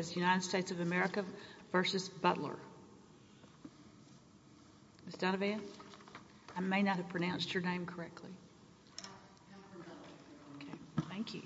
Ms. Donovan, I may not have pronounced your name correctly. Thank you.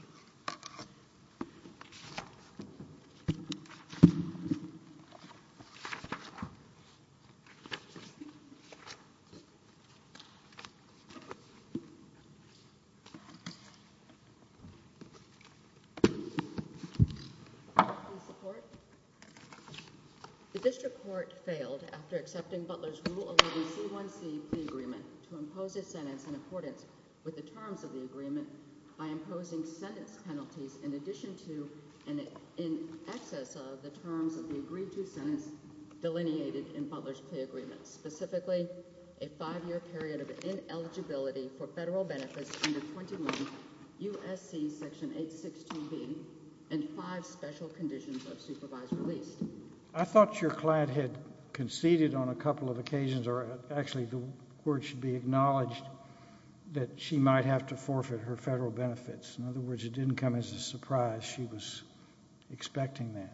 The district court failed after accepting Butler's rule of the agreement to impose a sentence in accordance with the terms of the agreement by imposing sentence penalties in addition to an excess of the terms of the agreed to sentence delineated in Butler's plea agreement, specifically a five-year period of ineligibility for federal benefits under 21 U.S.C. section 862B and five special conditions of supervised release. I thought your client had conceded on a couple of occasions, or actually the word should be acknowledged, that she might have to forfeit her federal benefits. In other words, it didn't come as a surprise she was expecting that.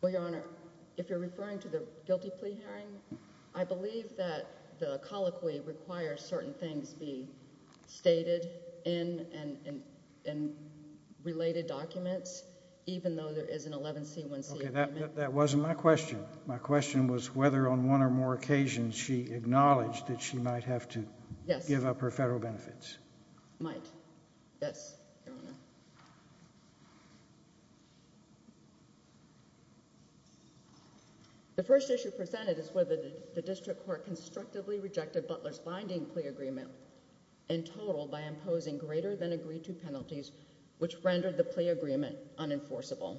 Well, Your Honor, if you're referring to the guilty plea hearing, I believe that the colloquy requires certain things be stated in related documents, even though there is an 11C1C agreement. That wasn't my question. My question was whether on one or more occasions she acknowledged that she might have to give up her federal benefits. Might. Yes, Your Honor. The first issue presented is whether the district court constructively rejected Butler's binding plea agreement in total by imposing greater than agreed to penalties, which rendered the plea agreement unenforceable.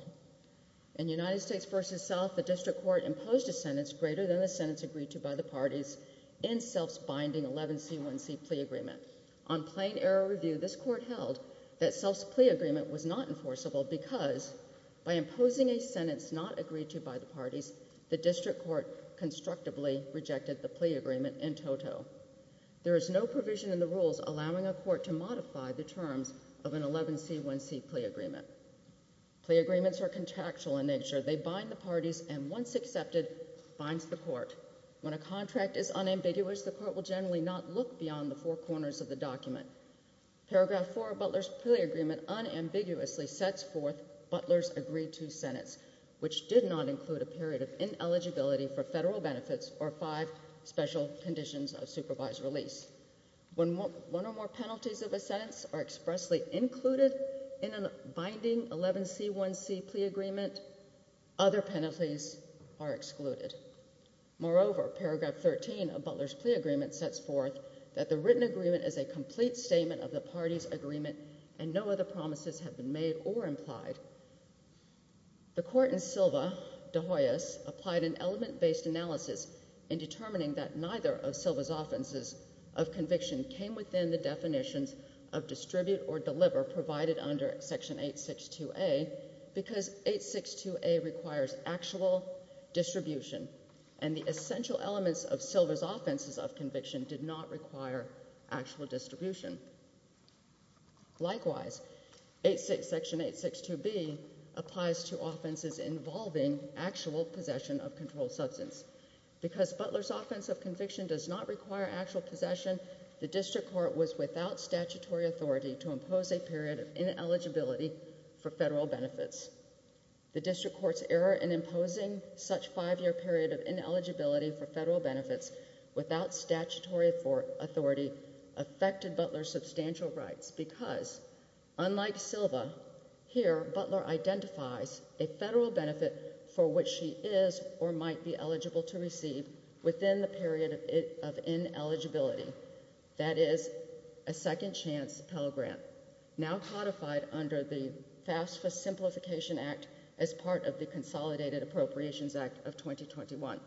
In United States v. South, the district court imposed a sentence greater than the sentence agreed to by the parties in Self's binding 11C1C plea agreement. On plain error review, this court held that Self's plea agreement was not enforceable because by imposing a sentence not agreed to by the parties, the district court constructively rejected the plea agreement in total. There is no provision in the rules allowing a court to modify the terms of an 11C1C plea agreement. Plea agreements are contractual in nature. They bind the parties, and once accepted, binds the court. When a contract is unambiguous, the court will generally not look beyond the four corners of the document. Paragraph 4 of Butler's plea agreement unambiguously sets forth Butler's agreed-to sentence, which did not include a period of ineligibility for federal benefits or five special conditions of supervised release. When one or more penalties of a sentence are expressly included in a binding 11C1C plea agreement, other penalties are excluded. Moreover, paragraph 13 of Butler's plea agreement sets forth that the written agreement is a complete statement of the parties' agreement and no other promises have been made or implied. The court in Silva de Hoyas applied an element-based analysis in determining that neither of Silva's offenses of conviction came within the definitions of distribute or deliver provided under section 862A because 862A requires actual distribution, and the essential elements of Silva's offenses of conviction did not require actual distribution. Likewise, section 862B applies to offenses involving actual possession of controlled substance. Because Butler's offense of conviction does not require actual possession, the district court was without statutory authority to impose a period of ineligibility for federal benefits. The district court's error in imposing such a five-year period of ineligibility for federal benefits without statutory authority affected Butler's substantial rights because, unlike Silva, here Butler identifies a federal benefit for which she is or might be eligible to receive within the period of ineligibility. That is a second-chance Pell Grant, now codified under the FAFSA Simplification Act as part of the Consolidated Appropriations Act of 2021.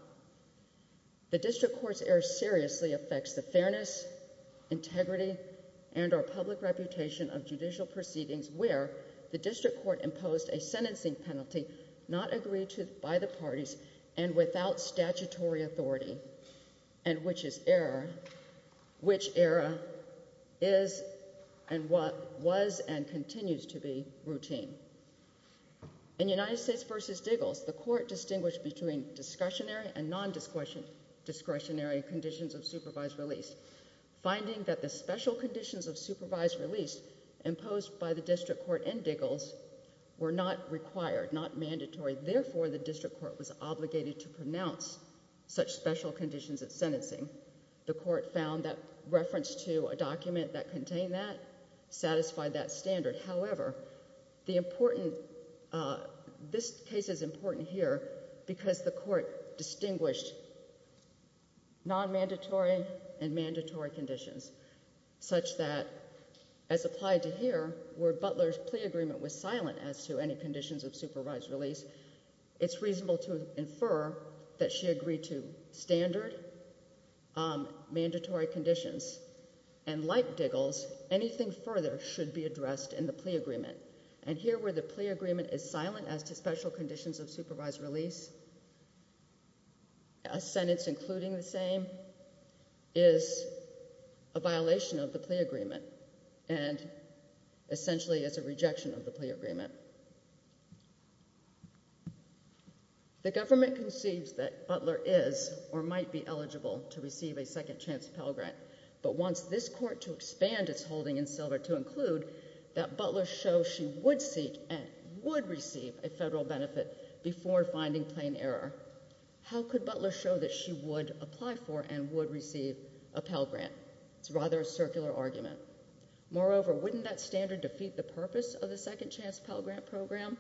The district court's error seriously affects the fairness, integrity, and or public reputation of judicial proceedings where the district court imposed a sentencing penalty not agreed to by the parties and without statutory authority, and which error was and continues to be routine. In United States v. Diggles, the court distinguished between discretionary and non-discretionary conditions of supervised release, finding that the special conditions of supervised release imposed by the district court in Diggles were not required, not mandatory. Therefore, the district court was obligated to pronounce such special conditions of sentencing. The court found that reference to a document that contained that satisfied that standard. However, this case is important here because the court distinguished non-mandatory and mandatory conditions such that, as applied to here where Butler's plea agreement was silent as to any conditions of supervised release, it's reasonable to infer that she agreed to standard mandatory conditions. And like Diggles, anything further should be addressed in the plea agreement. And here where the plea agreement is silent as to special conditions of supervised release, a sentence including the same, is a violation of the plea agreement and essentially is a rejection of the plea agreement. The government conceives that Butler is or might be eligible to receive a second chance Pell Grant, but wants this court to expand its holding in silver to include that Butler shows she would seek and would receive a federal benefit before finding plain error. How could Butler show that she would apply for and would receive a Pell Grant? It's rather a circular argument. Moreover, wouldn't that standard defeat the purpose of the second chance Pell Grant program?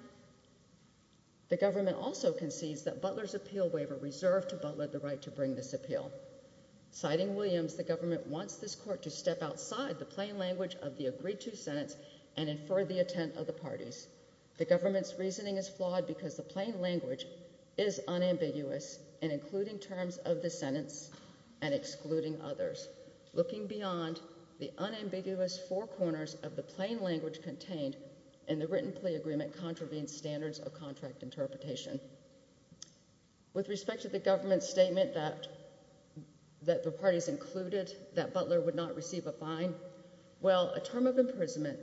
The government also concedes that Butler's appeal waiver reserved to Butler the right to bring this appeal. Citing Williams, the government wants this court to step outside the plain language of the agreed to sentence and infer the intent of the parties. The government's reasoning is flawed because the plain language is unambiguous and including terms of the sentence and excluding others. Looking beyond, the unambiguous four corners of the plain language contained in the written plea agreement contravenes standards of contract interpretation. With respect to the government statement that that the parties included that Butler would not receive a fine. Well, a term of imprisonment,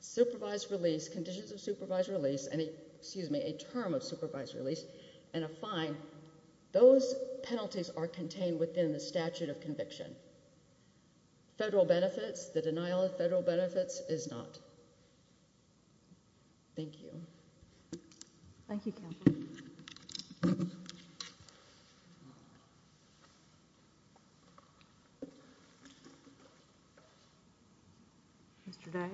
supervised release, conditions of supervised release and excuse me, a term of supervised release and a fine. Those penalties are contained within the statute of conviction. Federal benefits, the denial of federal benefits is not. Thank you. Thank you. Mr. Day.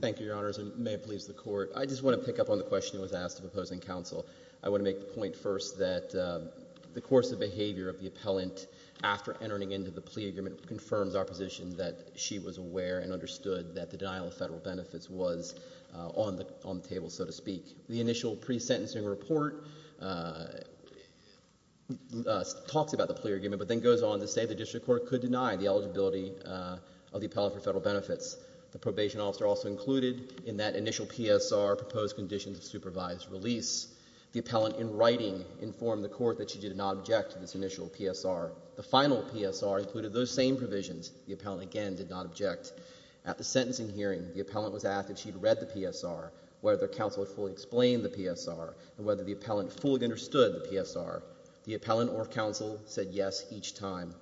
Thank you, Your Honors and may it please the court. I just want to pick up on the question that was asked of opposing counsel. I want to make the point first that the course of behavior of the appellant after entering into the plea agreement confirms our position that she was aware and understood that the denial of federal benefits was on the table, so to speak. The initial pre-sentencing report talks about the plea agreement but then goes on to say the district court could deny the eligibility of the appellant for federal benefits. The probation officer also included in that initial PSR proposed conditions of supervised release. The appellant in writing informed the court that she did not object to this initial PSR. The final PSR included those same provisions. The appellant again did not object. At the sentencing hearing, the appellant was asked if she had read the PSR, whether counsel had fully explained the PSR, and whether the appellant fully understood the PSR. The appellant or counsel said yes each time.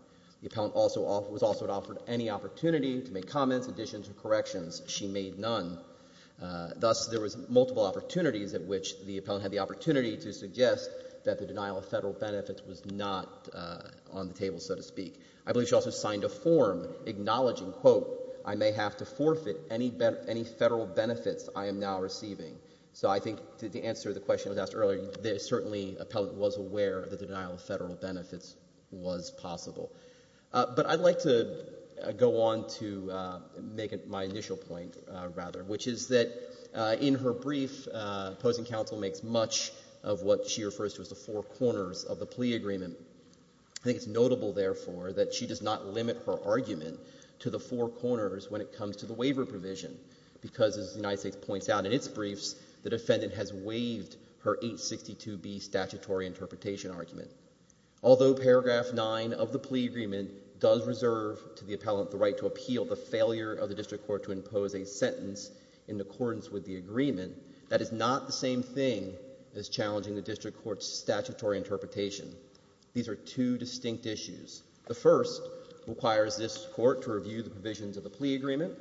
The appellant was also offered any opportunity to make comments, additions, or corrections. She made none. Thus, there was multiple opportunities at which the appellant had the opportunity to suggest that the denial of federal benefits was not on the table, so to speak. I believe she also signed a form acknowledging, quote, I may have to forfeit any federal benefits I am now receiving. So I think to answer the question that was asked earlier, the appellant was aware that the denial of federal benefits was possible. But I'd like to go on to make my initial point, rather, which is that in her brief, opposing counsel makes much of what she refers to as the four corners of the plea agreement. I think it's notable, therefore, that she does not limit her argument to the four corners when it comes to the waiver provision because, as the United States points out in its brief, the defendant has waived her 862B statutory interpretation argument. Although paragraph 9 of the plea agreement does reserve to the appellant the right to appeal the failure of the district court to impose a sentence in accordance with the agreement, that is not the same thing as challenging the district court's statutory interpretation. These are two distinct issues. The first requires this court to review the provisions of the plea agreement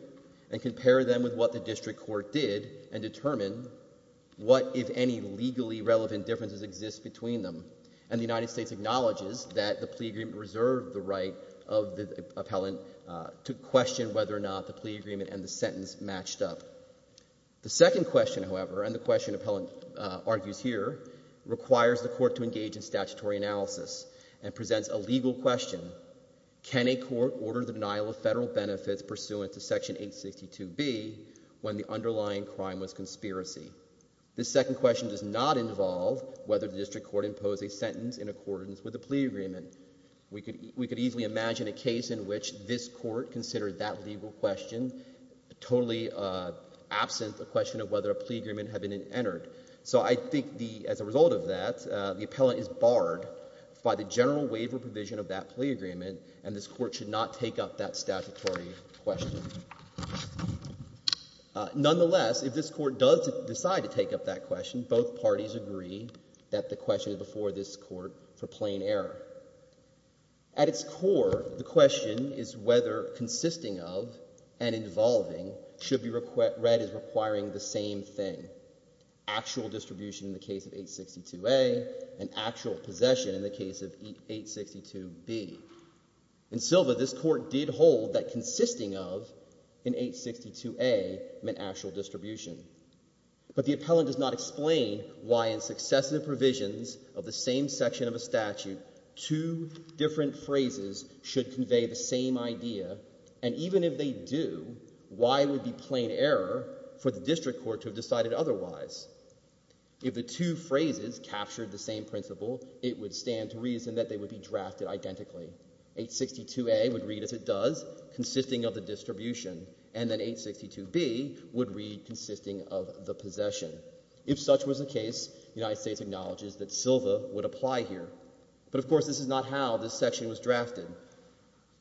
and compare them with what the district court did and determine what, if any, legally relevant differences exist between them. And the United States acknowledges that the plea agreement reserved the right of the appellant to question whether or not the plea agreement and the sentence matched up. The second question, however, and the question appellant argues here, requires the court to engage in statutory analysis and presents a legal question. Can a court order the denial of federal benefits pursuant to section 862B when the underlying crime was conspiracy? This second question does not involve whether the district court imposed a sentence in accordance with the plea agreement. We could easily imagine a case in which this court considered that legal question totally absent the question of whether a plea agreement had been entered. So I think as a result of that, the appellant is barred by the general waiver provision of that plea agreement, and this court should not take up that statutory question. Nonetheless, if this court does decide to take up that question, both parties agree that the question is before this court for plain error. At its core, the question is whether consisting of and involving should be read as requiring the same thing, actual distribution in the case of 862A and actual possession in the case of 862B. In Silva, this court did hold that consisting of in 862A meant actual distribution. But the appellant does not explain why in successive provisions of the same section of a statute, two different phrases should convey the same idea, and even if they do, why it would be plain error for the district court to have decided otherwise. If the two phrases captured the same principle, it would stand to reason that they would be drafted identically. 862A would read as it does, consisting of the distribution, and then 862B would read consisting of the possession. If such was the case, the United States acknowledges that Silva would apply here. But of course this is not how this section was drafted.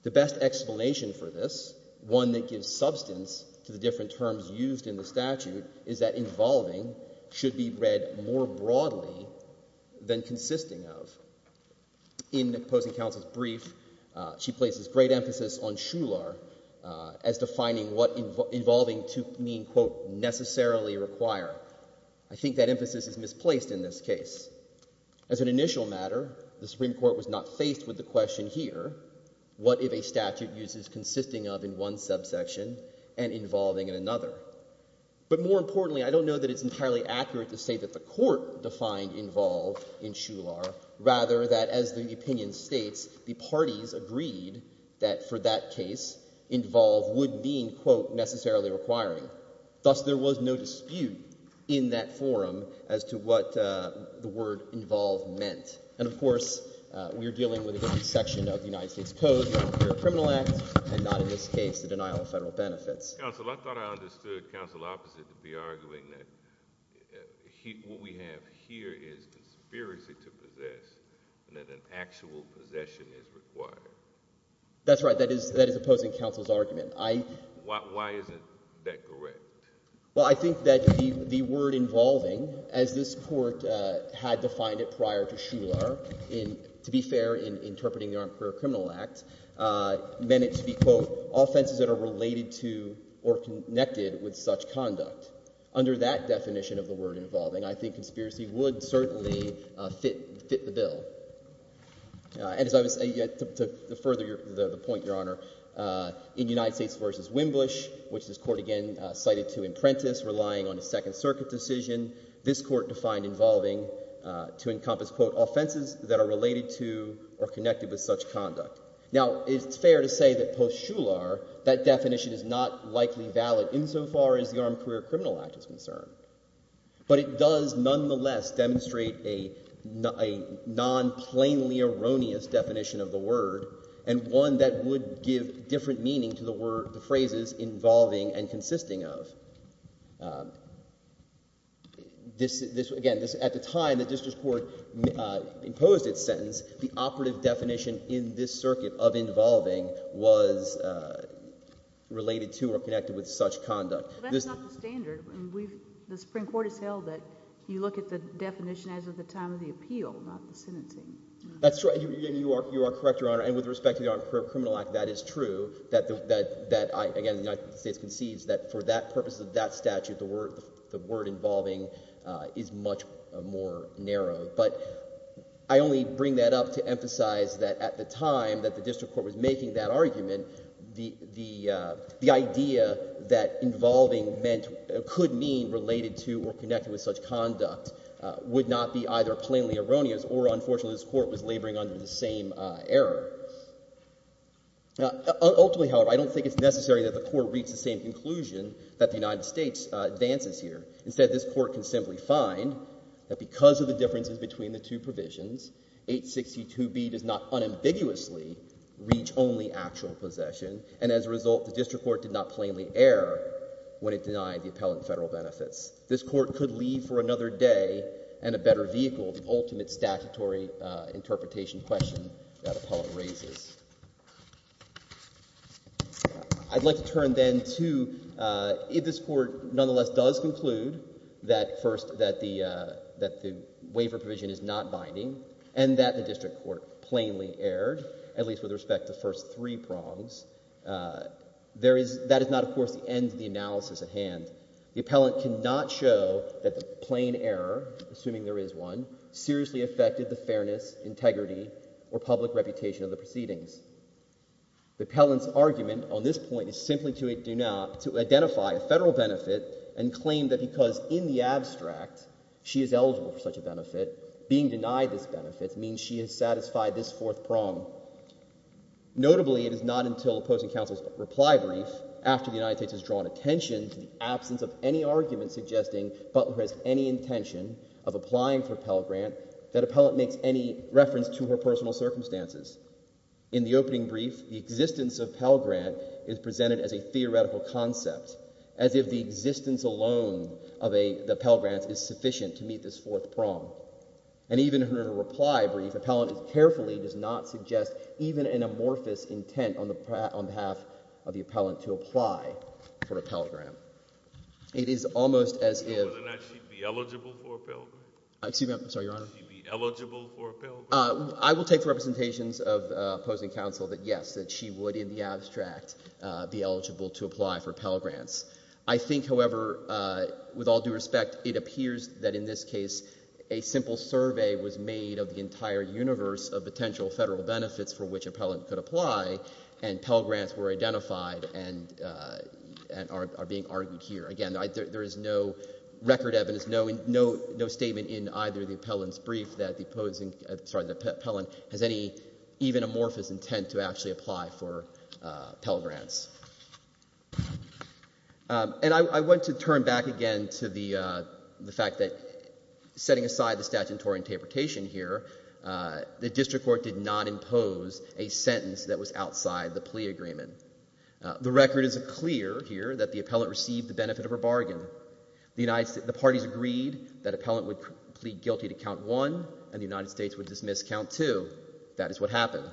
The best explanation for this, one that gives substance to the different terms used in the statute, is that involving should be read more broadly than consisting of. In the opposing counsel's brief, she places great emphasis on shular as defining what involving to mean, quote, necessarily require. I think that emphasis is misplaced in this case. As an initial matter, the Supreme Court was not faced with the question here, what if a statute uses consisting of in one subsection and involving in another? But more importantly, I don't know that it's entirely accurate to say that the court defined involve in shular, rather that as the opinion states, the parties agreed that for that case, involve would mean, quote, necessarily requiring. Thus, there was no dispute in that forum as to what the word involve meant. And, of course, we are dealing with a section of the United States Code, the Appearance of Criminal Act, and not in this case the denial of federal benefits. Counsel, I thought I understood counsel opposite to be arguing that what we have here is conspiracy to possess and that an actual possession is required. That's right. That is opposing counsel's argument. Why isn't that correct? Well, I think that the word involving, as this court had defined it prior to shular, to be fair in interpreting the Armed Career Criminal Act, meant it to be, quote, offenses that are related to or connected with such conduct. Under that definition of the word involving, I think conspiracy would certainly fit the bill. And as I was saying, to further the point, Your Honor, in United States v. Wimbush, which this court again cited to imprentice, relying on a Second Circuit decision, this court defined involving to encompass, quote, offenses that are related to or connected with such conduct. Now, it's fair to say that post shular, that definition is not likely valid insofar as the Armed Career Criminal Act is concerned. But it does nonetheless demonstrate a non-plainly erroneous definition of the word and one that would give different meaning to the phrases involving and consisting of. Again, at the time the district court imposed its sentence, the operative definition in this circuit of involving was related to or connected with such conduct. But that's not the standard. The Supreme Court has held that you look at the definition as of the time of the appeal, not the sentencing. That's right. You are correct, Your Honor. And with respect to the Armed Career Criminal Act, that is true. That, again, the United States concedes that for that purpose of that statute, the word involving is much more narrow. But I only bring that up to emphasize that at the time that the district court was making that argument, the idea that involving could mean related to or connected with such conduct would not be either plainly erroneous or, unfortunately, this Court was laboring under the same error. Ultimately, however, I don't think it's necessary that the Court reach the same conclusion that the United States advances here. Instead, this Court can simply find that because of the differences between the two provisions, 862B does not unambiguously reach only actual possession. And as a result, the district court did not plainly err when it denied the appellant federal benefits. This court could leave for another day and a better vehicle the ultimate statutory interpretation question that appellant raises. I'd like to turn then to if this Court nonetheless does conclude that first that the waiver provision is not binding and that the district court plainly erred, at least with respect to the first three prongs, that is not, of course, the end of the analysis at hand. The appellant cannot show that the plain error, assuming there is one, seriously affected the fairness, integrity, or public reputation of the proceedings. The appellant's argument on this point is simply to identify a federal benefit and claim that because in the abstract she is eligible for such a benefit, being denied this benefit means she has satisfied this fourth prong. Notably, it is not until opposing counsel's reply brief after the United States has drawn attention to the absence of any argument suggesting Butler has any intention of applying for a Pell Grant that appellant makes any reference to her personal circumstances. In the opening brief, the existence of Pell Grant is presented as a theoretical concept, as if the existence alone of the Pell Grants is sufficient to meet this fourth prong. And even her reply brief, appellant carefully does not suggest even an amorphous intent on behalf of the appellant to apply for a Pell Grant. It is almost as if— So would it not she be eligible for a Pell Grant? Excuse me. Would she be eligible for a Pell Grant? I will take the representations of opposing counsel that yes, that she would in the abstract be eligible to apply for Pell Grants. I think, however, with all due respect, it appears that in this case a simple survey was made of the entire universe of potential federal benefits for which appellant could apply and Pell Grants were identified and are being argued here. Again, there is no record evidence, no statement in either of the appellant's brief that the appellant has any even amorphous intent to actually apply for Pell Grants. And I want to turn back again to the fact that setting aside the statutory interpretation here, the district court did not impose a sentence that was outside the plea agreement. The record is clear here that the appellant received the benefit of a bargain. The parties agreed that appellant would plead guilty to count one and the United States would dismiss count two. That is what happened.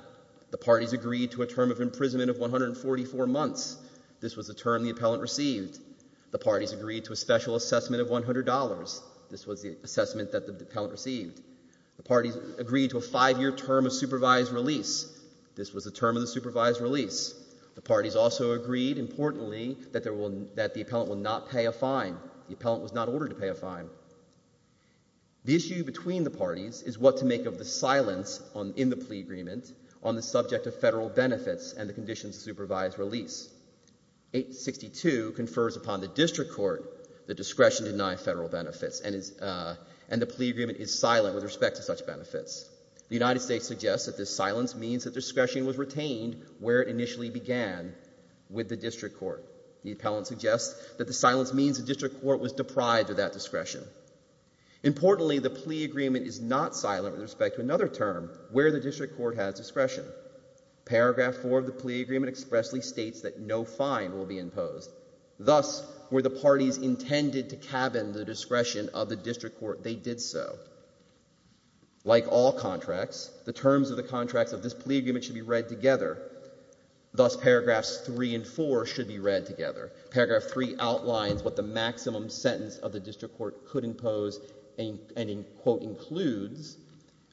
The parties agreed to a term of imprisonment of 144 months. This was the term the appellant received. The parties agreed to a special assessment of $100. This was the assessment that the appellant received. The parties agreed to a five-year term of supervised release. This was the term of the supervised release. The parties also agreed, importantly, that the appellant will not pay a fine. The appellant was not ordered to pay a fine. The issue between the parties is what to make of the silence in the plea agreement on the subject of federal benefits and the conditions of supervised release. 862 confers upon the district court the discretion to deny federal benefits, and the plea agreement is silent with respect to such benefits. The United States suggests that this silence means that discretion was retained where it initially began with the district court. The appellant suggests that the silence means the district court was deprived of that discretion. Importantly, the plea agreement is not silent with respect to another term, where the district court has discretion. Paragraph 4 of the plea agreement expressly states that no fine will be imposed. Thus, were the parties intended to cabin the discretion of the district court, they did so. Like all contracts, the terms of the contracts of this plea agreement should be read together. Thus, paragraphs 3 and 4 should be read together. Paragraph 3 outlines what the maximum sentence of the district court could impose and, quote, includes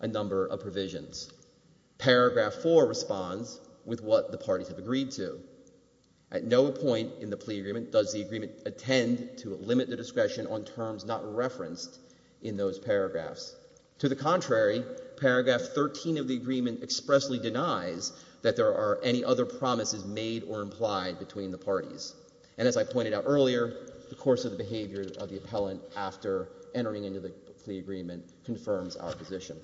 a number of provisions. Paragraph 4 responds with what the parties have agreed to. At no point in the plea agreement does the agreement attend to limit the discretion on terms not referenced in those paragraphs. To the contrary, paragraph 13 of the agreement expressly denies that there are any other promises made or implied between the parties. And as I pointed out earlier, the course of the behavior of the appellant after entering into the plea agreement confirms our position.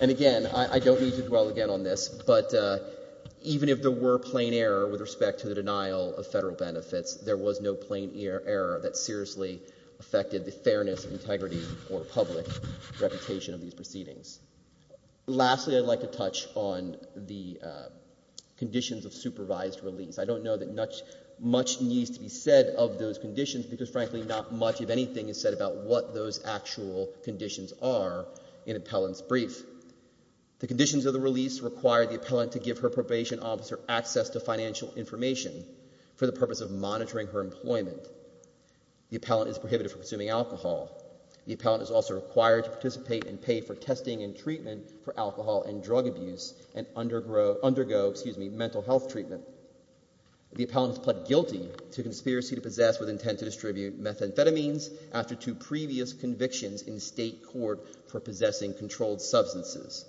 And again, I don't mean to dwell again on this, but even if there were plain error with respect to the denial of federal benefits, there was no plain error that seriously affected the fairness, integrity, or public reputation of these proceedings. Lastly, I'd like to touch on the conditions of supervised release. I don't know that much needs to be said of those conditions because, frankly, not much of anything is said about what those actual conditions are in appellant's brief. The conditions of the release require the appellant to give her probation officer access to financial information for the purpose of monitoring her employment. The appellant is prohibited from consuming alcohol. The appellant is also required to participate and pay for testing and treatment for alcohol and drug abuse and undergo mental health treatment. The appellant is pled guilty to conspiracy to possess with intent to distribute methamphetamines after two previous convictions in state court for possessing controlled substances.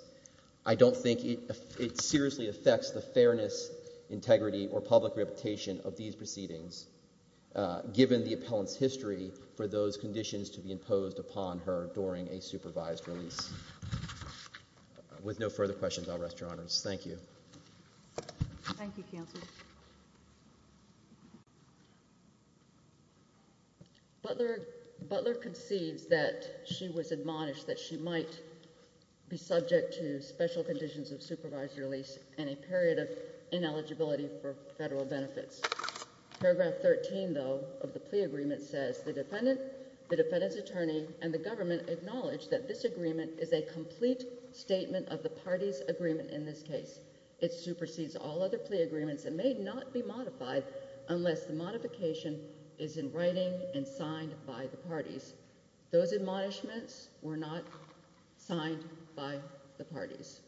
I don't think it seriously affects the fairness, integrity, or public reputation of these proceedings, given the appellant's history for those conditions to be imposed upon her during a supervised release. With no further questions, I'll rest your honors. Thank you. Thank you, counsel. Butler concedes that she was admonished that she might be subject to special conditions of supervised release and a period of ineligibility for federal benefits. Paragraph 13, though, of the plea agreement says, the defendant, the defendant's attorney, and the government acknowledge that this agreement is a complete statement of the party's agreement in this case. It supersedes all other plea agreements and may not be modified unless the modification is in writing and signed by the parties. Those admonishments were not signed by the parties.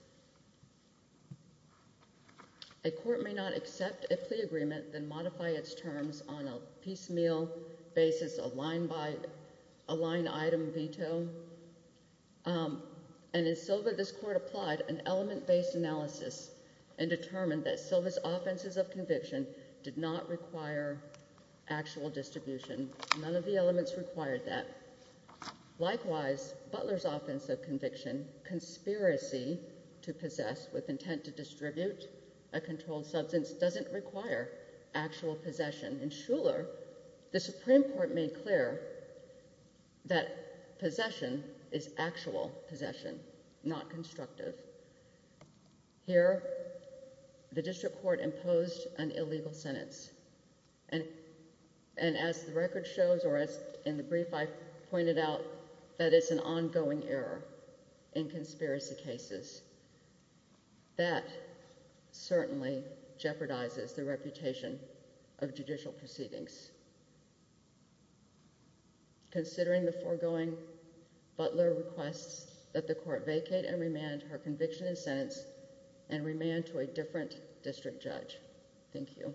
A court may not accept a plea agreement and modify its terms on a piecemeal basis, a line-item veto. And in Silva, this court applied an element-based analysis and determined that Silva's offenses of conviction did not require actual distribution. None of the elements required that. Likewise, Butler's offense of conviction, conspiracy to possess with intent to distribute a controlled substance, doesn't require actual possession. In Shuler, the Supreme Court made clear that possession is actual possession, not constructive. Here, the district court imposed an illegal sentence. And as the record shows, or as in the brief I pointed out, that it's an ongoing error in conspiracy cases. That certainly jeopardizes the reputation of judicial proceedings. Considering the foregoing, Butler requests that the court vacate and remand her conviction and sentence and remand to a different district judge. Thank you.